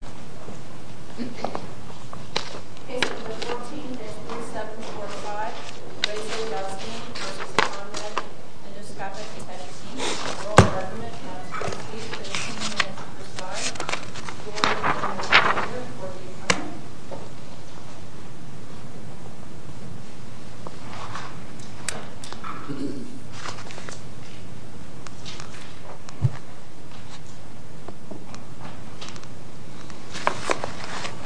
for the whole Government, on the 22nd and the 2nd of this month in the Philadelphia District millimeters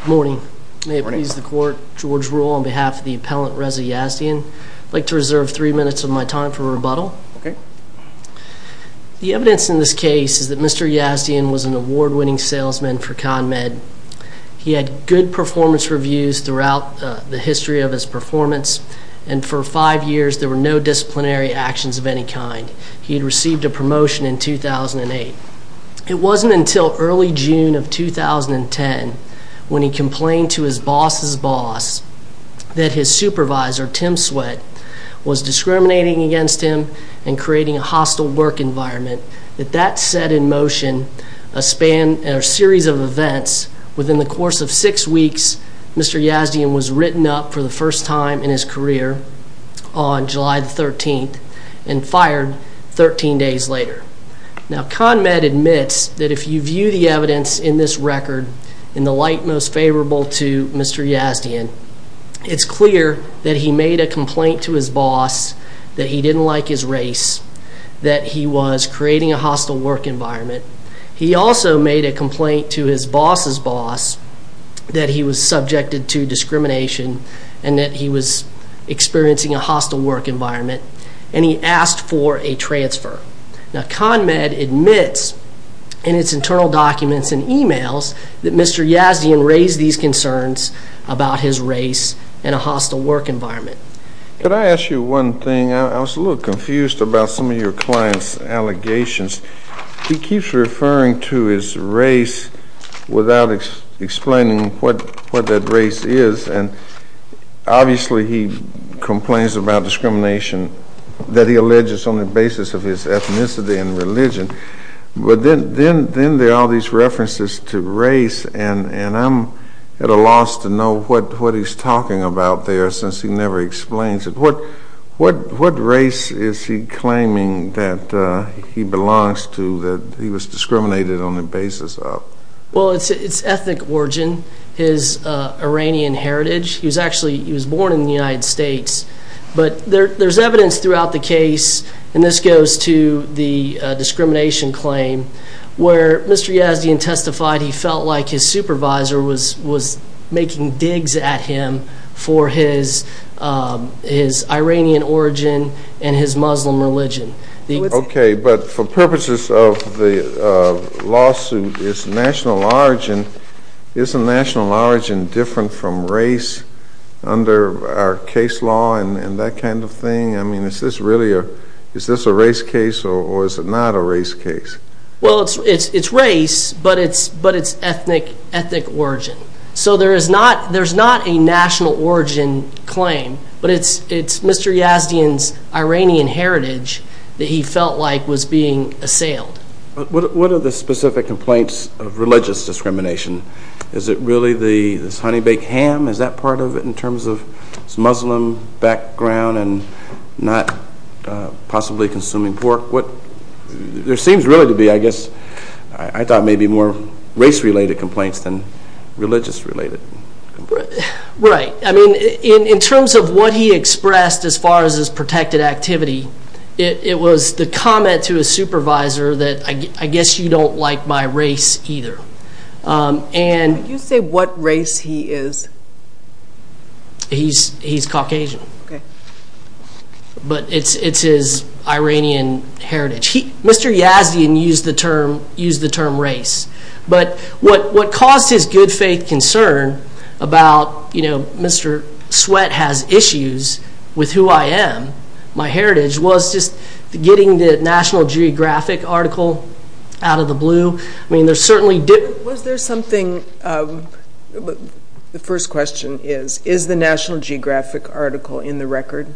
Morning. May it please the Court, George Rule on behalf of the Appellant Reza Yazdian. I'd like to reserve three minutes of my time for rebuttal. The evidence in this case is that he had good performance reviews throughout the history of his performance, and for five years there were no disciplinary actions of any kind. He had received a promotion in 2008. It wasn't until early June of 2010 when he complained to his boss's boss that his supervisor, Tim Sweat, was discriminating against him and creating a hostile work environment, that that set in motion a series of events. Within the course of six weeks, Mr. Yazdian was written up for the first time in his career on July the 13th and fired 13 days later. Now ConMed admits that if you view the evidence in this record in the light most favorable to Mr. Yazdian, it's clear that he made a complaint to his boss that he didn't like his race, that he was creating a hostile work environment. He also made a complaint to his boss's boss that he was subjected to discrimination and that he was experiencing a hostile work environment, and he asked for a transfer. Now ConMed admits in its internal documents and emails that Mr. Yazdian raised these concerns about his race and a hostile work environment. Could I ask you one thing? I was a little confused about some of your client's allegations. He keeps referring to his race without explaining what that race is, and obviously he complains about discrimination that he alleges on the basis of his ethnicity and religion, but then there are all these references to race, and I'm at a loss to know what he's talking about there, since he never explains it. What race is he claiming that he belongs to, that he was discriminated on the basis of? Well, it's ethnic origin, his Iranian heritage. He was actually, he was born in the United States, but there's evidence throughout the case, and this goes to the discrimination claim, where Mr. Yazdian testified he felt like his supervisor was making digs at him for his Iranian origin and his Muslim religion. Okay, but for purposes of the lawsuit, is national origin, isn't national origin different from race under our case law and that kind of thing? I mean, is this really a, is this a race case, or is it not a race case? Well, it's race, but it's ethnic origin. So there is not, there's not a national origin claim, but it's Mr. Yazdian's Iranian heritage that he felt like was being assailed. What are the specific complaints of religious discrimination? Is it really this honey-baked ham? Is that part of it in terms of his Muslim background and not possibly consuming pork? What, there seems really to be, I guess, I thought maybe more race-related complaints than religious-related. Right, I mean, in terms of what he expressed as far as his protected activity, it was the comment to his supervisor that, I guess you don't like my race either, and... Would you say what race he is? He's, he's Caucasian. Okay. But it's, it's his Iranian heritage. He, Mr. Yazdian used the term, used the term race, but what, what caused his good-faith concern about, you know, Mr. Sweat has issues with who I am, my heritage, was just getting the National Geographic article out of the blue. I mean, there certainly did... Was there something, the first question is, is the National Geographic article in the record?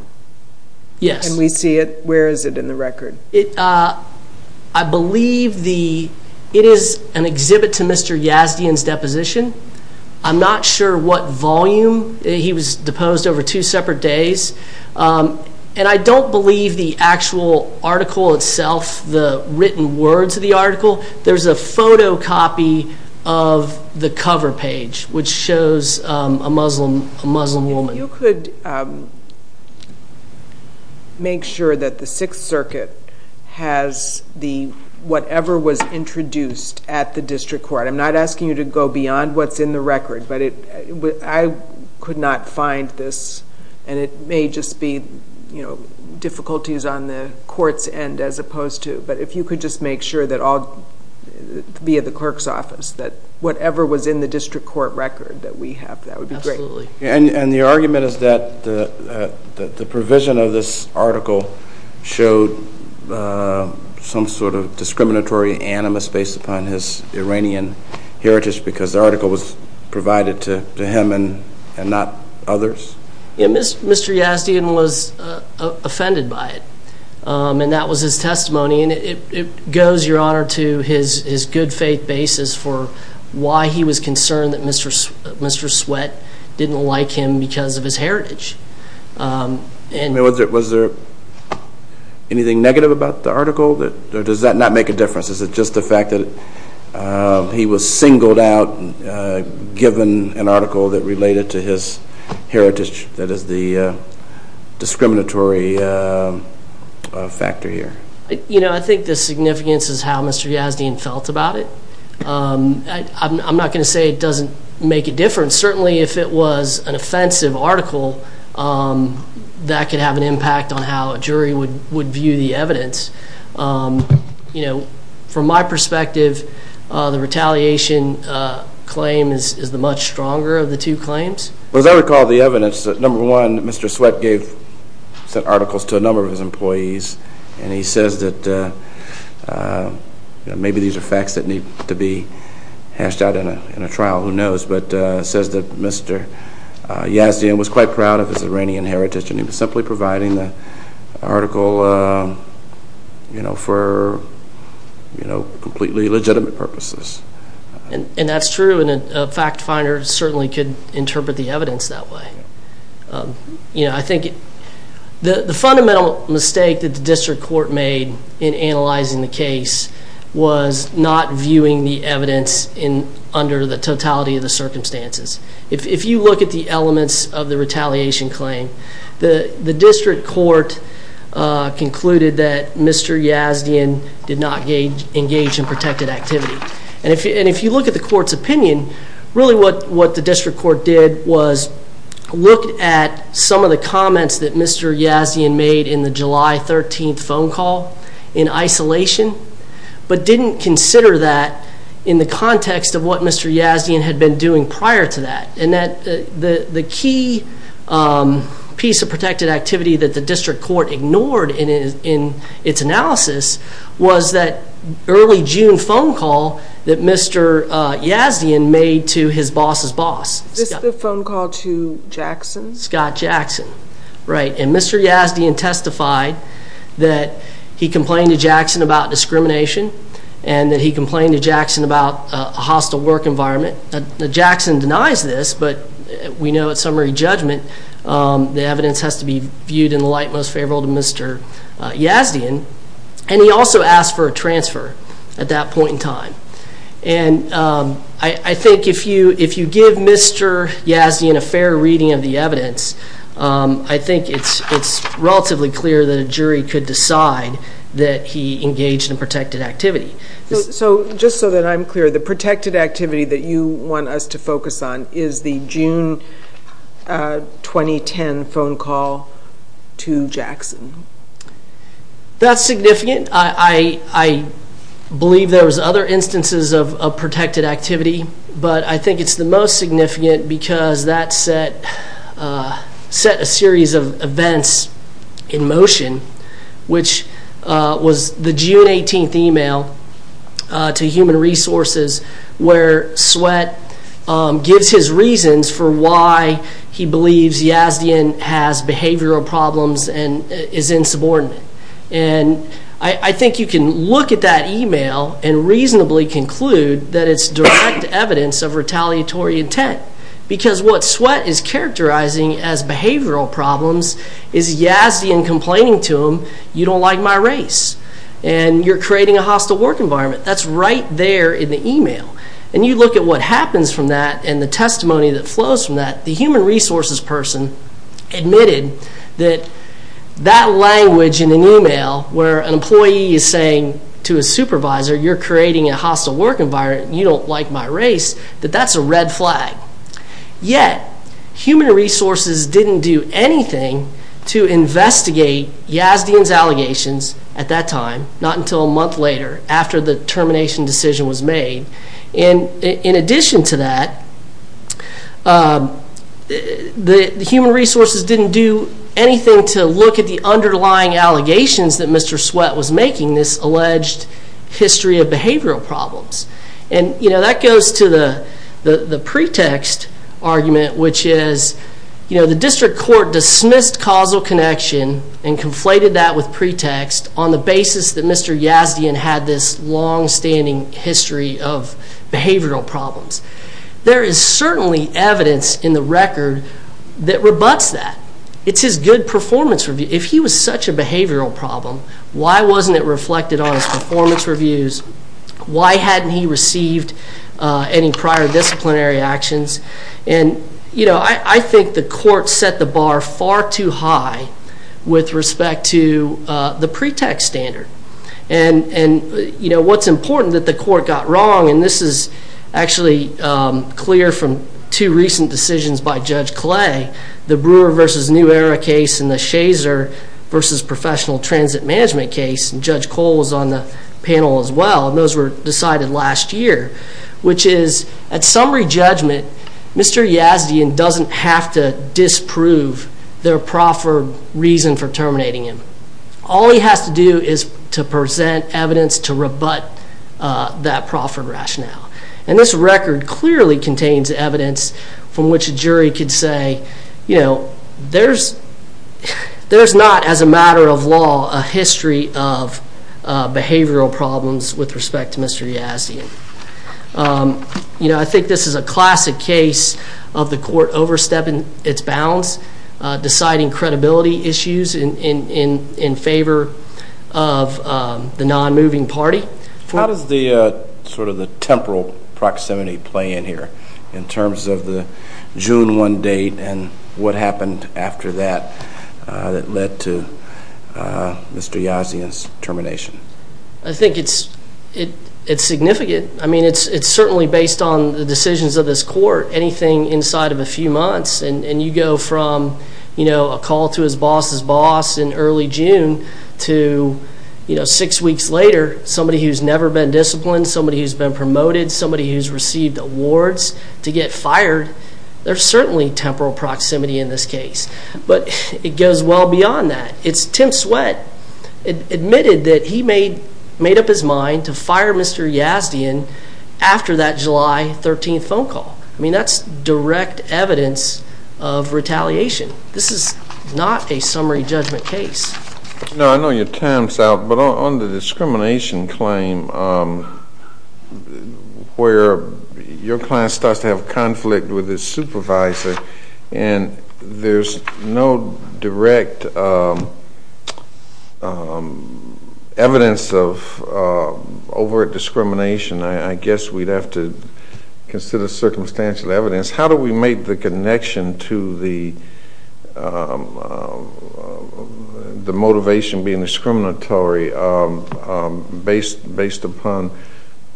Yes. Can we see it? Where is it in the record? It, I believe the, it is an exhibit to Mr. Yazdian's deposition. I'm not sure what volume he was deposed over two separate days, and I don't believe the copy of the cover page, which shows a Muslim, a Muslim woman. If you could make sure that the Sixth Circuit has the, whatever was introduced at the district court. I'm not asking you to go beyond what's in the record, but it, I could not find this, and it may just be, you know, difficulties on the court's end, as opposed to, but if you could just make sure that all, via the clerk's office, that whatever was in the district court record that we have, that would be great. Absolutely. And, and the argument is that the, that the provision of this article showed some sort of discriminatory animus based upon his Iranian heritage, because the article was that was his testimony, and it, it goes, Your Honor, to his, his good faith basis for why he was concerned that Mr., Mr. Sweat didn't like him because of his heritage. And, was there, was there anything negative about the article that, or does that not make a difference? Is it just the fact that he was singled out, given an article that related to his heritage, that is the discriminatory factor here? You know, I think the significance is how Mr. Yazdien felt about it. I'm not going to say it doesn't make a difference. Certainly, if it was an offensive article, that could have an impact on how a jury would, would view the evidence. You know, from my perspective, the retaliation claim is, is the much stronger of the two claims. As I recall the evidence, number one, Mr. Sweat gave, sent articles to a number of his employees, and he says that, you know, maybe these are facts that need to be hashed out in a, in a trial, who knows, but says that Mr. Yazdien was quite proud of his Iranian heritage, and he was simply providing the article, you know, for, you know, completely legitimate purposes. And, and that's true, and a fact finder certainly could interpret the evidence that way. You know, I think the, the fundamental mistake that the district court made in analyzing the case was not viewing the evidence in, under the totality of the case. It did not gauge, engage in protected activity. And if, and if you look at the court's opinion, really what, what the district court did was look at some of the comments that Mr. Yazdien made in the July 13th phone call in isolation, but didn't consider that in the context of what Mr. Yazdien had been doing prior to that. And that the, the key piece of protected activity that the district court ignored in its analysis was that early June phone call that Mr. Yazdien made to his boss's boss. Is this the phone call to Jackson? Scott Jackson, right. And Mr. Yazdien testified that he complained to Jackson about this, but we know at summary judgment, the evidence has to be viewed in the light most favorable to Mr. Yazdien. And he also asked for a transfer at that point in time. And I think if you, if you give Mr. Yazdien a fair reading of the evidence, I think it's, it's relatively clear that a jury could decide that he engaged in protected activity. So, so just so that I'm clear, the protected activity that you want us to focus on is the June 2010 phone call to Jackson. That's significant. I, I believe there was other instances of protected activity, but I think it's the most significant because that set, set a series of events in motion, which was the June 18th email to human resources where Sweatt gives his reasons for why he believes Yazdien has behavioral problems and is insubordinate. And I think you can look at that email and reasonably conclude that it's direct evidence of retaliatory intent because what Sweatt is characterizing as behavioral problems is Yazdien complaining to him, you don't like my race, and you're creating a hostile work environment. That's right there in the email. And you look at what happens from that and the testimony that flows from that, the human resources person admitted that that language in an email where an employee is saying to a supervisor, you're creating a hostile work environment, you don't like my race, that that's a red flag. Yet human resources didn't do anything to investigate Yazdien's allegations at that time, not until a month later after the termination decision was made. And in addition to that, the human resources didn't do anything to look at the underlying allegations that Mr. Sweatt was making this alleged history of behavioral problems. And that goes to the pretext argument, which is the district court dismissed causal connection and conflated that with pretext on the basis that Mr. Yazdien had this longstanding history of behavioral problems. There is certainly evidence in the record that rebuts that. It's his good performance review. If he was such a behavioral problem, why wasn't it reflected on his performance reviews? Why hadn't he received any prior disciplinary actions? And I think the court set the bar far too high with respect to the pretext standard. And what's important that the court got wrong, and this is actually clear from two recent decisions by Judge Clay, the Brewer v. New Era case and the Shazer v. Professional Transit Management case. And Judge Cole was on the panel as well, and those were decided last year, which is at summary judgment, Mr. Yazdien doesn't have to disprove their proffered reason for terminating him. All he has to do is to present evidence to rebut that proffered rationale. And this record clearly contains evidence from which a jury could say, you know, there's not, as a matter of law, a history of behavioral problems with respect to Mr. Yazdien. You know, I think this is a classic case of the court overstepping its bounds, deciding credibility issues in favor of the non-moving party. How does the sort of the temporal proximity play in here, in terms of the June 1 date and what happened after that that led to Mr. Yazdien's termination? I think it's significant. I mean, it's certainly based on the decisions of this court, anything inside of a few months. And you go from, you know, a call to his boss's boss in early June to, you know, six weeks later, somebody who's never been disciplined, somebody who's been promoted, somebody who's received awards to get fired. There's certainly temporal proximity in this case, but it goes well beyond that. It's Tim Sweat admitted that he made up his mind to fire Mr. Yazdien after that July 13 phone call. I mean, that's direct evidence of retaliation. This is not a summary judgment case. No, I know your time's out, but on the discrimination claim, where your client starts to have conflict with his supervisor and there's no direct evidence of overt discrimination, I guess we'd have to consider circumstantial evidence. How do we make the connection to the motivation being discriminatory based upon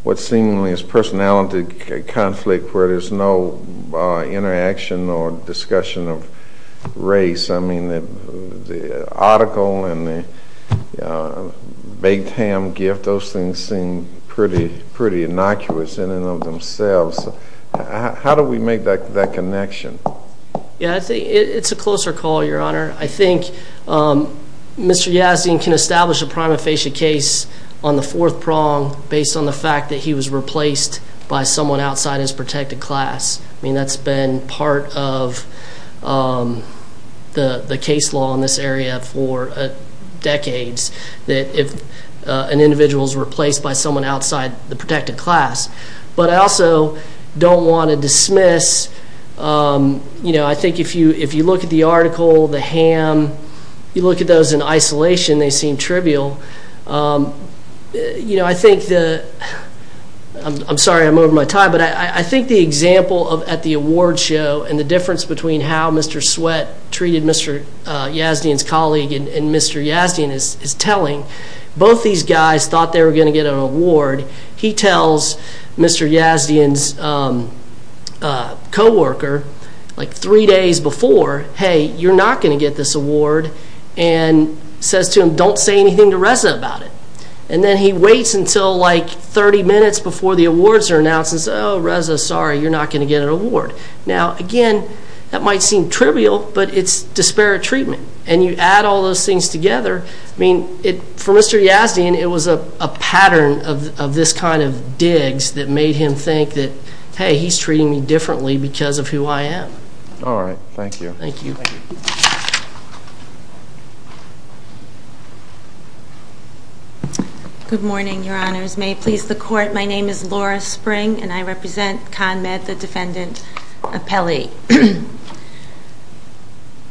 what seemingly is personality conflict where there's no interaction or discussion of race? I mean, the article and the baked ham gift, those things seem pretty innocuous in and of themselves. How do we make that connection? Yeah, I think it's a closer call, Your Honor. I think Mr. Yazdien can establish a prima facie case on the fourth prong based on the fact that he was replaced by someone outside his protected class. I mean, that's been part of the case law in this area for decades, that if an individual is replaced by someone outside the protected class. But I also don't want to dismiss, I think if you look at the article, the ham, you look at those in isolation, they seem trivial. I'm sorry I'm over my time, but I think the example at the award show and the difference between how Mr. Sweat treated Mr. Yazdien's colleague and Mr. Yazdien is telling. Both these guys thought they were going to get an award. He tells Mr. Yazdien's co-worker like three days before, hey, you're not going to get this award, and says to him, don't say anything to Reza about it. And then he waits until like 30 minutes before the awards are announced and says, oh, Reza, sorry, you're not going to get an award. Now, again, that might seem trivial, but it's disparate treatment. And you add all those things together. I mean, for Mr. Yazdien, it was a pattern of this kind of digs that made him think that, hey, he's treating me differently because of who I am. All right. Thank you. Thank you. Good morning, Your Honors. May it please the Court, my name is Laura Spring, and I represent ConMed, the defendant of Pelley.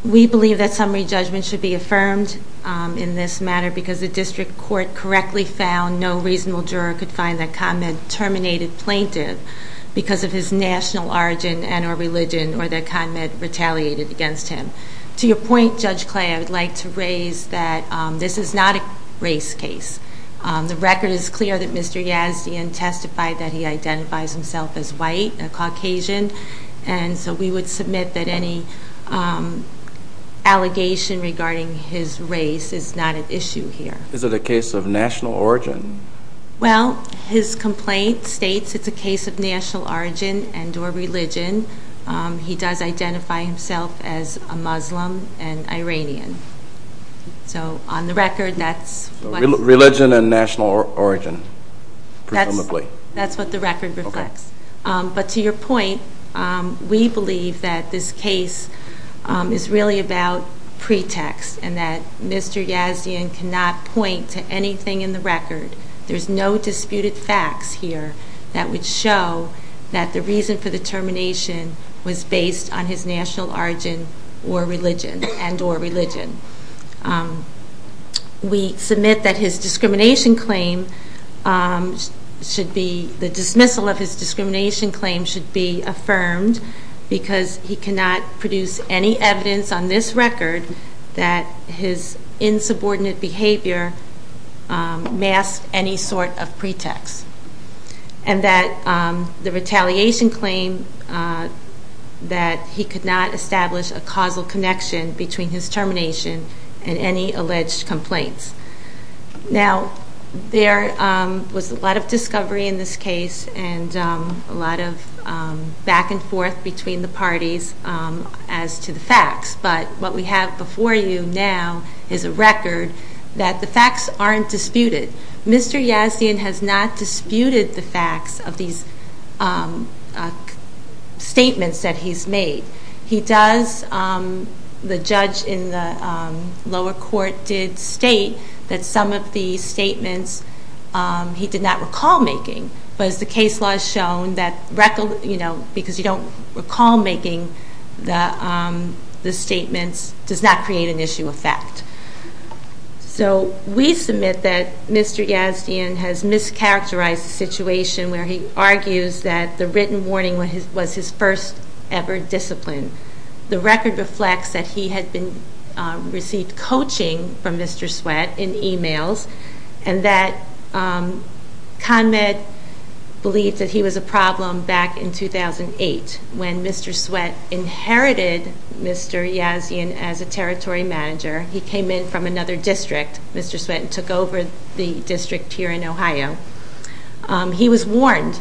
We believe that summary judgment should be affirmed in this matter because the district court correctly found no reasonable juror could find that ConMed terminated plaintiff because of his national origin and or religion or that ConMed retaliated against him. To your point, Judge Clay, I would like to raise that this is not a race case. The record is clear that Mr. Yazdien testified that he identifies himself as white, a Caucasian. And so we would submit that any allegation regarding his race is not at issue here. Is it a case of national origin? Well, his complaint states it's a case of national origin and or religion. He does identify himself as a Muslim and Iranian. So on the record, that's what's... Religion and national origin, presumably. That's what the record reflects. But to your point, we believe that this case is really about pretext and that Mr. Yazdien cannot point to anything in the record. There's no disputed facts here that would show that the reason for the termination was based on his national origin and or religion. We submit that his discrimination claim should be... The dismissal of his discrimination claim should be affirmed because he cannot produce any evidence on this record that his insubordinate behavior masked any sort of pretext. And that the retaliation claim that he could not establish a causal connection between his termination and any alleged complaints. Now, there was a lot of discovery in this case and a lot of back and forth between the parties as to the facts. But what we have before you now is a record that the facts aren't disputed. Mr. Yazdien has not disputed the facts of these statements that he's made. He does... The judge in the lower court did state that some of the statements he did not recall making. But as the case law has shown, because you don't recall making the statements, does not create an issue of fact. So we submit that Mr. Yazdien has mischaracterized the situation where he argues that the written warning was his first ever discipline. The record reflects that he had received coaching from Mr. Sweat in emails. And that Conrad believed that he was a problem back in 2008 when Mr. Sweat inherited Mr. Yazdien as a territory manager. He came in from another district. Mr. Sweat took over the district here in Ohio. He was warned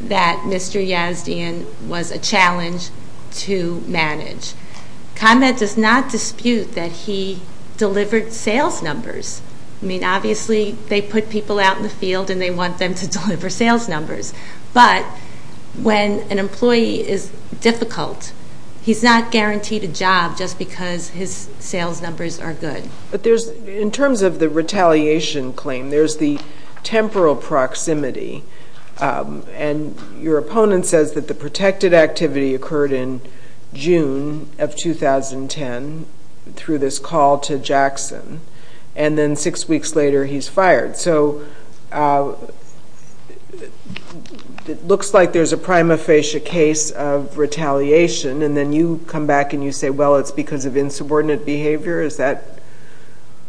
that Mr. Yazdien was a challenge to manage. Conrad does not dispute that he delivered sales numbers. I mean, obviously, they put people out in the field and they want them to deliver sales numbers. But when an employee is difficult, he's not guaranteed a job just because his sales numbers are good. But in terms of the retaliation claim, there's the temporal proximity. And your opponent says that the protected activity occurred in June of 2010 through this call to Jackson. And then six weeks later, he's fired. So it looks like there's a prima facie case of retaliation. And then you come back and you say, well, it's because of insubordinate behavior. Is that?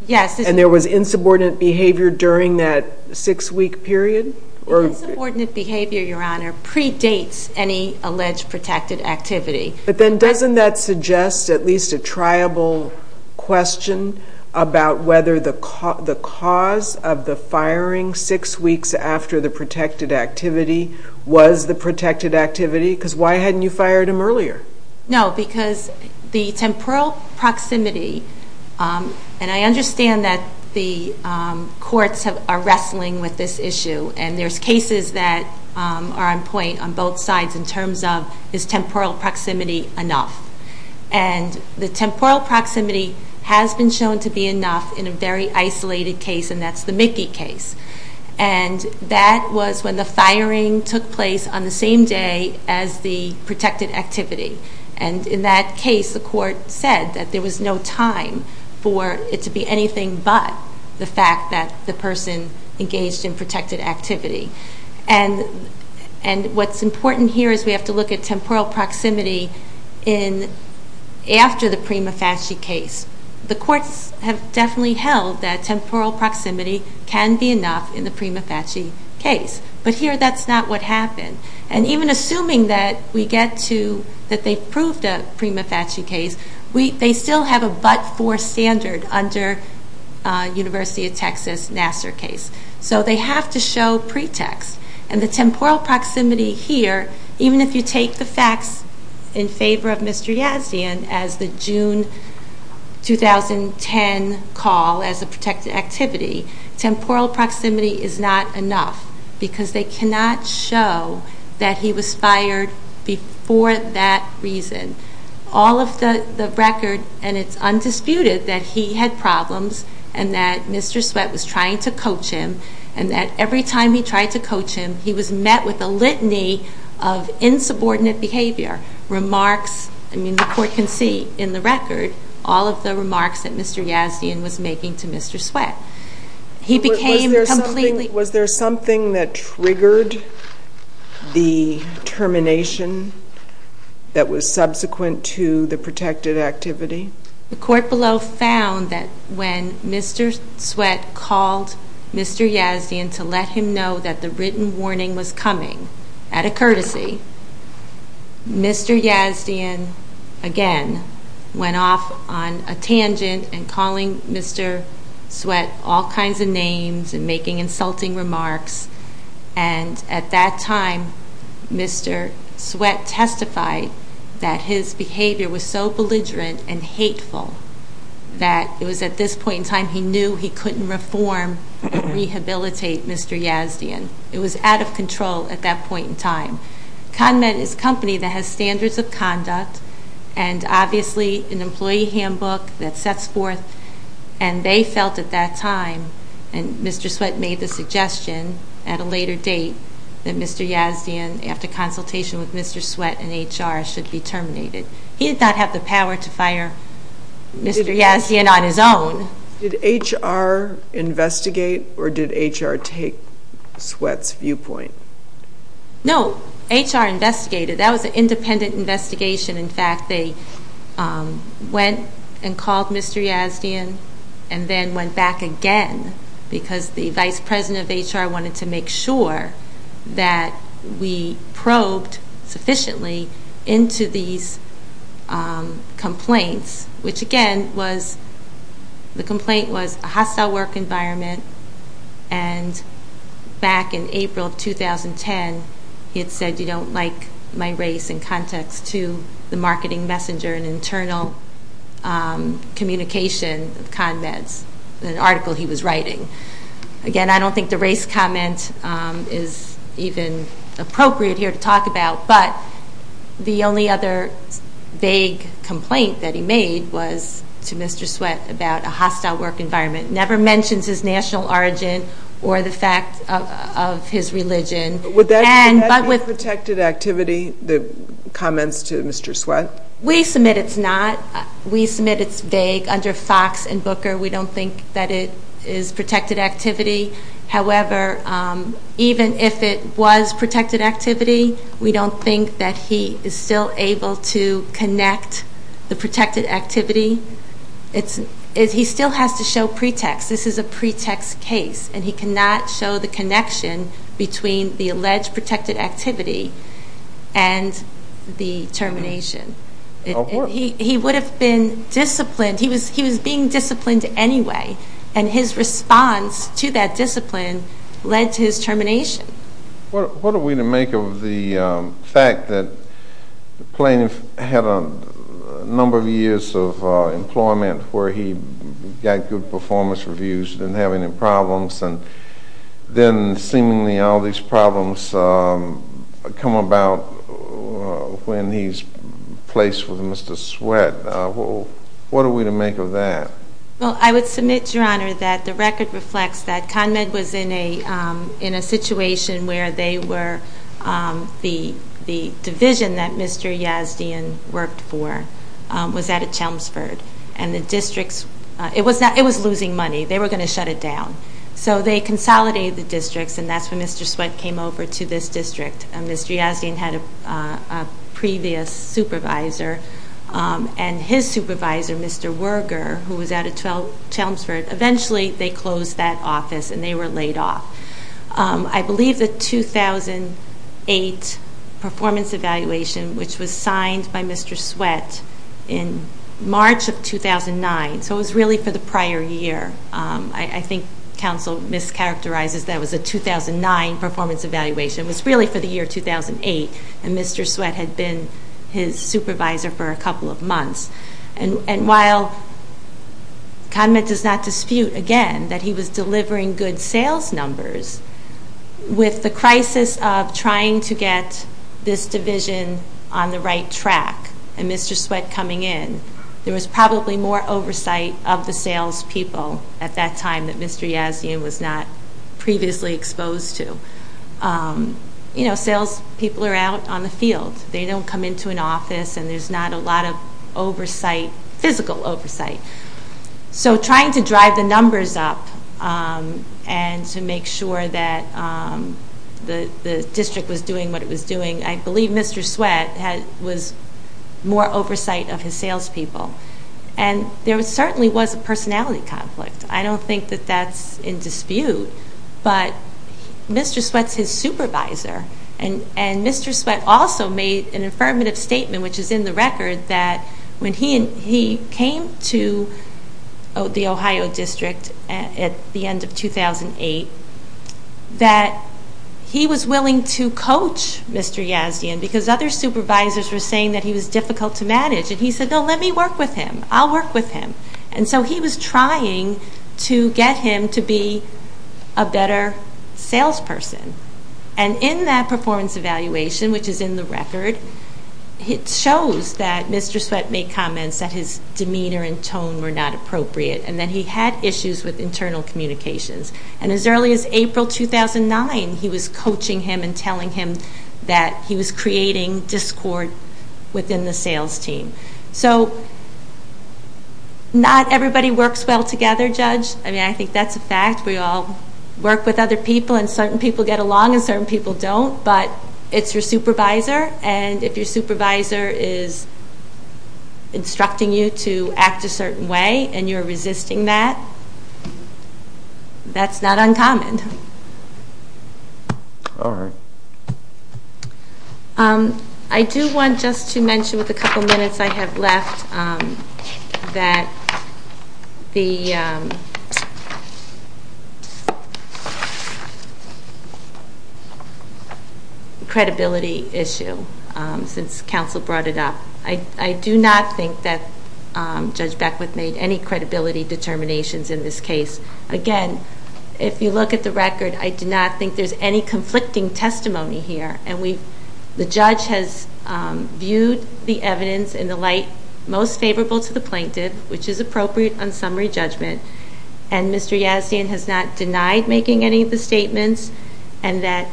Yes. And there was insubordinate behavior during that six-week period? Insubordinate behavior, Your Honor, predates any alleged protected activity. But then doesn't that suggest at least a triable question about whether the cause of the firing six weeks after the protected activity was the protected activity? Because why hadn't you fired him earlier? No, because the temporal proximity, and I understand that the courts are wrestling with this issue. And there's cases that are on point on both sides in terms of, is temporal proximity enough? And the temporal proximity has been shown to be enough in a very isolated case, and that's the Mickey case. And that was when the firing took place on the same day as the protected activity. And in that case, the court said that there was no time for it to be anything but the fact that the person engaged in protected activity. And what's important here is we have to look at temporal proximity after the prima facie case. The courts have definitely held that temporal proximity can be enough in the prima facie case. But here, that's not what happened. And even assuming that we get to, that they've proved a prima facie case, they still have a but-for standard under University of Texas Nassar case. So they have to show pretext. And the temporal proximity here, even if you take the facts in favor of Mr. Yazdian as the June 2010 call as a protected activity, temporal proximity is not enough because they cannot show that he was fired before that reason. All of the record, and it's undisputed, that he had problems and that Mr. Sweat was trying to coach him, and that every time he tried to coach him, he was met with a litany of insubordinate behavior. I mean, the court can see in the record all of the remarks that Mr. Yazdian was making to Mr. Sweat. He became completely... Was there something that triggered the termination that was subsequent to the protected activity? The court below found that when Mr. Sweat called Mr. Yazdian to let him know that the written warning was coming, out of courtesy, Mr. Yazdian, again, went off on a tangent and calling Mr. Sweat all kinds of names and making insulting remarks. And at that time, Mr. Sweat testified that his behavior was so belligerent and hateful that it was at this point in time he knew he couldn't reform and rehabilitate Mr. Yazdian. It was out of control at that point in time. ConMed is a company that has standards of conduct and, obviously, an employee handbook that sets forth. And they felt at that time, and Mr. Sweat made the suggestion at a later date, that Mr. Yazdian, after consultation with Mr. Sweat and HR, should be terminated. He did not have the power to fire Mr. Yazdian on his own. Did HR investigate or did HR take Sweat's viewpoint? No, HR investigated. That was an independent investigation. In fact, they went and called Mr. Yazdian and then went back again because the vice president of HR wanted to make sure that we probed sufficiently into these complaints, which, again, the complaint was a hostile work environment. And back in April of 2010, he had said, you don't like my race in context to the marketing messenger and internal communication of ConMed's article he was writing. Again, I don't think the race comment is even appropriate here to talk about. But the only other vague complaint that he made was to Mr. Sweat about a hostile work environment. Never mentions his national origin or the fact of his religion. Would that be a protected activity, the comments to Mr. Sweat? We submit it's not. We submit it's vague. Under Fox and Booker, we don't think that it is protected activity. However, even if it was protected activity, we don't think that he is still able to connect the protected activity. He still has to show pretext. This is a pretext case, and he cannot show the connection between the alleged protected activity and the termination. He would have been disciplined. He was being disciplined anyway. And his response to that discipline led to his termination. What are we to make of the fact that the plaintiff had a number of years of employment where he got good performance reviews, didn't have any problems, and then seemingly all these problems come about when he's placed with Mr. Sweat? What are we to make of that? Well, I would submit, Your Honor, that the record reflects that ConMed was in a situation where the division that Mr. Yazdian worked for was out of Chelmsford. It was losing money. They were going to shut it down. So they consolidated the districts, and that's when Mr. Sweat came over to this district. Ms. Yazdian had a previous supervisor, and his supervisor, Mr. Werger, who was out of Chelmsford, eventually they closed that office and they were laid off. I believe the 2008 performance evaluation, which was signed by Mr. Sweat in March of 2009, so it was really for the prior year. I think counsel mischaracterizes that it was a 2009 performance evaluation. It was really for the year 2008, and Mr. Sweat had been his supervisor for a couple of months. And while ConMed does not dispute, again, that he was delivering good sales numbers, with the crisis of trying to get this division on the right track and Mr. Sweat coming in, there was probably more oversight of the salespeople at that time that Mr. Yazdian was not previously exposed to. You know, salespeople are out on the field. They don't come into an office, and there's not a lot of oversight, physical oversight. So trying to drive the numbers up and to make sure that the district was doing what it was doing, I believe Mr. Sweat was more oversight of his salespeople. And there certainly was a personality conflict. I don't think that that's in dispute, but Mr. Sweat's his supervisor, and Mr. Sweat also made an affirmative statement, which is in the record, that when he came to the Ohio District at the end of 2008, that he was willing to coach Mr. Yazdian because other supervisors were saying that he was difficult to manage. And he said, no, let me work with him. I'll work with him. And so he was trying to get him to be a better salesperson. And in that performance evaluation, which is in the record, it shows that Mr. Sweat made comments that his demeanor and tone were not appropriate and that he had issues with internal communications. And as early as April 2009, he was coaching him and telling him that he was creating discord within the sales team. So not everybody works well together, Judge. I mean, I think that's a fact. We all work with other people and certain people get along and certain people don't, but it's your supervisor. And if your supervisor is instructing you to act a certain way and you're resisting that, that's not uncommon. All right. I do want just to mention with the couple minutes I have left that the credibility issue, since counsel brought it up, I do not think that Judge Beckwith made any credibility determinations in this case. Again, if you look at the record, I do not think there's any conflicting testimony here. And the judge has viewed the evidence in the light most favorable to the plaintiff, which is appropriate on summary judgment, and Mr. Yazdian has not denied making any of the statements and that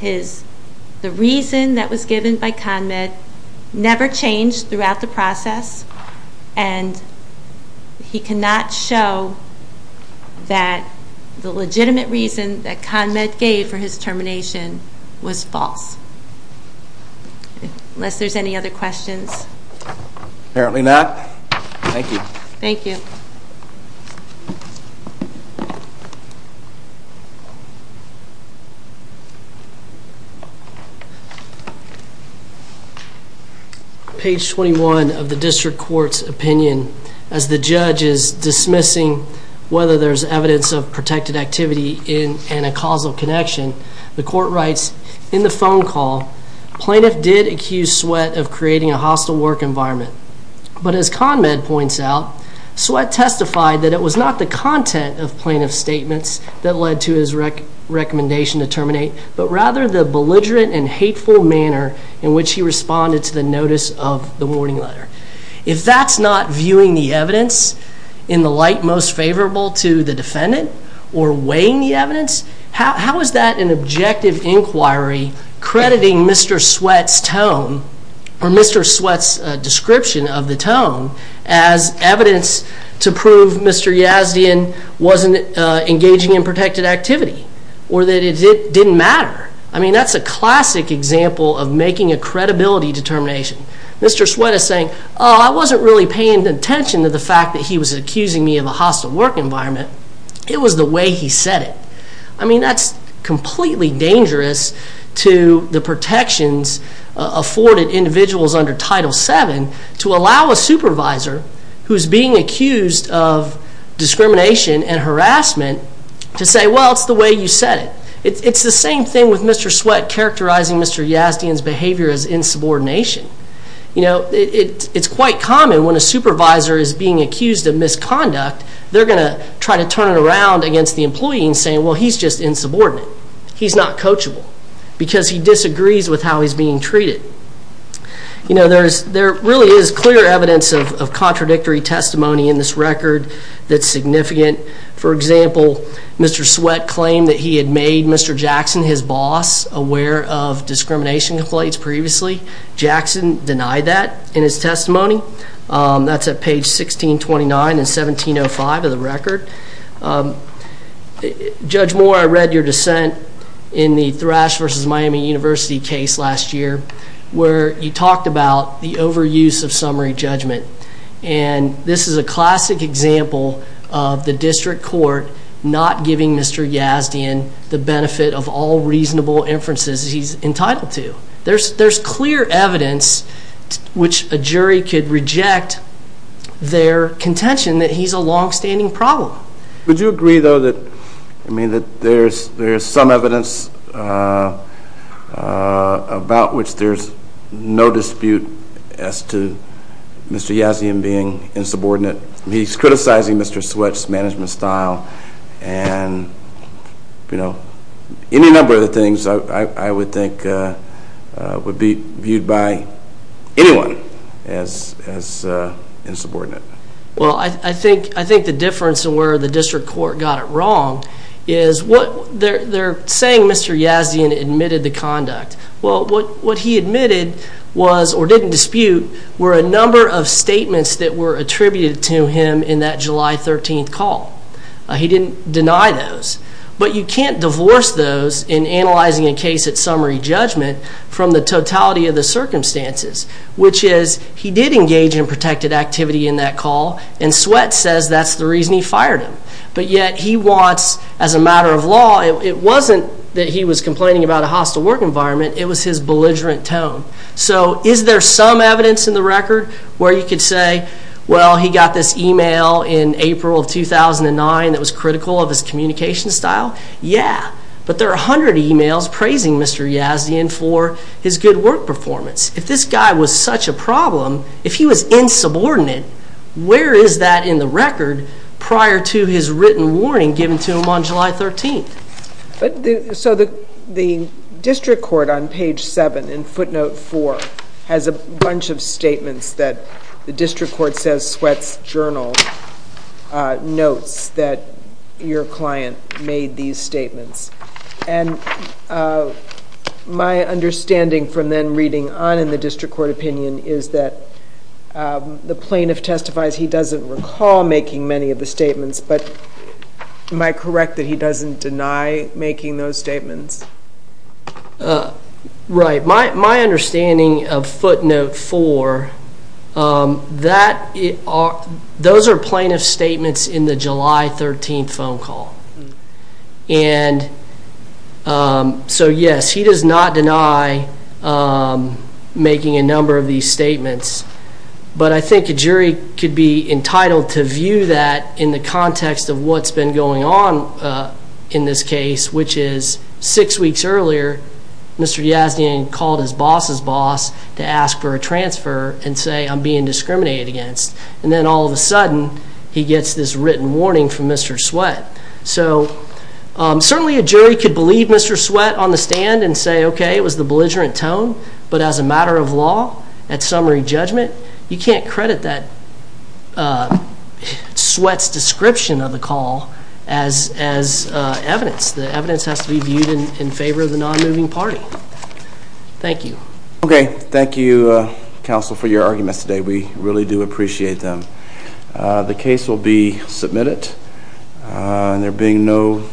the reason that was given by ConMed never changed throughout the process and he cannot show that the legitimate reason that ConMed gave for his termination was false. Unless there's any other questions. Apparently not. Thank you. Thank you. Page 21 of the district court's opinion, as the judge is dismissing whether there's evidence of protected activity and a causal connection, the court writes, In the phone call, plaintiff did accuse Sweatt of creating a hostile work environment. But as ConMed points out, Sweatt testified that it was not the content of plaintiff's statements that led to his recommendation to terminate, but rather the belligerent and hateful manner in which he responded to the notice of the warning letter. If that's not viewing the evidence in the light most favorable to the defendant or weighing the evidence, how is that an objective inquiry crediting Mr. Sweatt's tone or Mr. Sweatt's description of the tone as evidence to prove Mr. Yazdian wasn't engaging in protected activity or that it didn't matter? I mean, that's a classic example of making a credibility determination. Mr. Sweatt is saying, oh, I wasn't really paying attention to the fact that he was accusing me of a hostile work environment. It was the way he said it. I mean, that's completely dangerous to the protections afforded individuals under Title VII to allow a supervisor who's being accused of discrimination and harassment to say, well, it's the way you said it. It's the same thing with Mr. Sweatt characterizing Mr. Yazdian's behavior as insubordination. You know, it's quite common when a supervisor is being accused of misconduct, they're going to try to turn it around against the employee and say, well, he's just insubordinate. He's not coachable because he disagrees with how he's being treated. You know, there really is clear evidence of contradictory testimony in this record that's significant. For example, Mr. Sweatt claimed that he had made Mr. Jackson, his boss, aware of discrimination complaints previously. Jackson denied that in his testimony. That's at page 1629 and 1705 of the record. Judge Moore, I read your dissent in the Thrash v. Miami University case last year where you talked about the overuse of summary judgment. And this is a classic example of the district court not giving Mr. Yazdian the benefit of all reasonable inferences he's entitled to. There's clear evidence which a jury could reject their contention that he's a longstanding problem. Would you agree, though, that there's some evidence about which there's no dispute as to Mr. Yazdian being insubordinate? He's criticizing Mr. Sweatt's management style and, you know, any number of the things I would think would be viewed by anyone as insubordinate. Well, I think the difference in where the district court got it wrong is they're saying Mr. Yazdian admitted the conduct. Well, what he admitted was, or didn't dispute, were a number of statements that were attributed to him in that July 13th call. He didn't deny those. But you can't divorce those in analyzing a case at summary judgment from the totality of the circumstances, which is he did engage in protected activity in that call, and Sweatt says that's the reason he fired him. But yet he wants, as a matter of law, it wasn't that he was complaining about a hostile work environment. It was his belligerent tone. So is there some evidence in the record where you could say, well, he got this email in April of 2009 that was critical of his communication style? Yeah, but there are a hundred emails praising Mr. Yazdian for his good work performance. If this guy was such a problem, if he was insubordinate, where is that in the record prior to his written warning given to him on July 13th? So the district court on page 7 in footnote 4 has a bunch of statements that the district court says Sweatt's journal notes that your client made these statements. And my understanding from then reading on in the district court opinion is that the plaintiff testifies he doesn't recall making many of the statements, but am I correct that he doesn't deny making those statements? Right. My understanding of footnote 4, those are plaintiff's statements in the July 13th phone call. And so, yes, he does not deny making a number of these statements. But I think a jury could be entitled to view that in the context of what's been going on in this case, which is six weeks earlier Mr. Yazdian called his boss's boss to ask for a transfer and say, I'm being discriminated against. And then all of a sudden he gets this written warning from Mr. Sweatt. So certainly a jury could believe Mr. Sweatt on the stand and say, okay, it was the belligerent tone. But as a matter of law, at summary judgment, you can't credit that Sweatt's description of the call as evidence. The evidence has to be viewed in favor of the non-moving party. Thank you. Okay. Thank you, counsel, for your arguments today. We really do appreciate them. The case will be submitted. There being no further questions.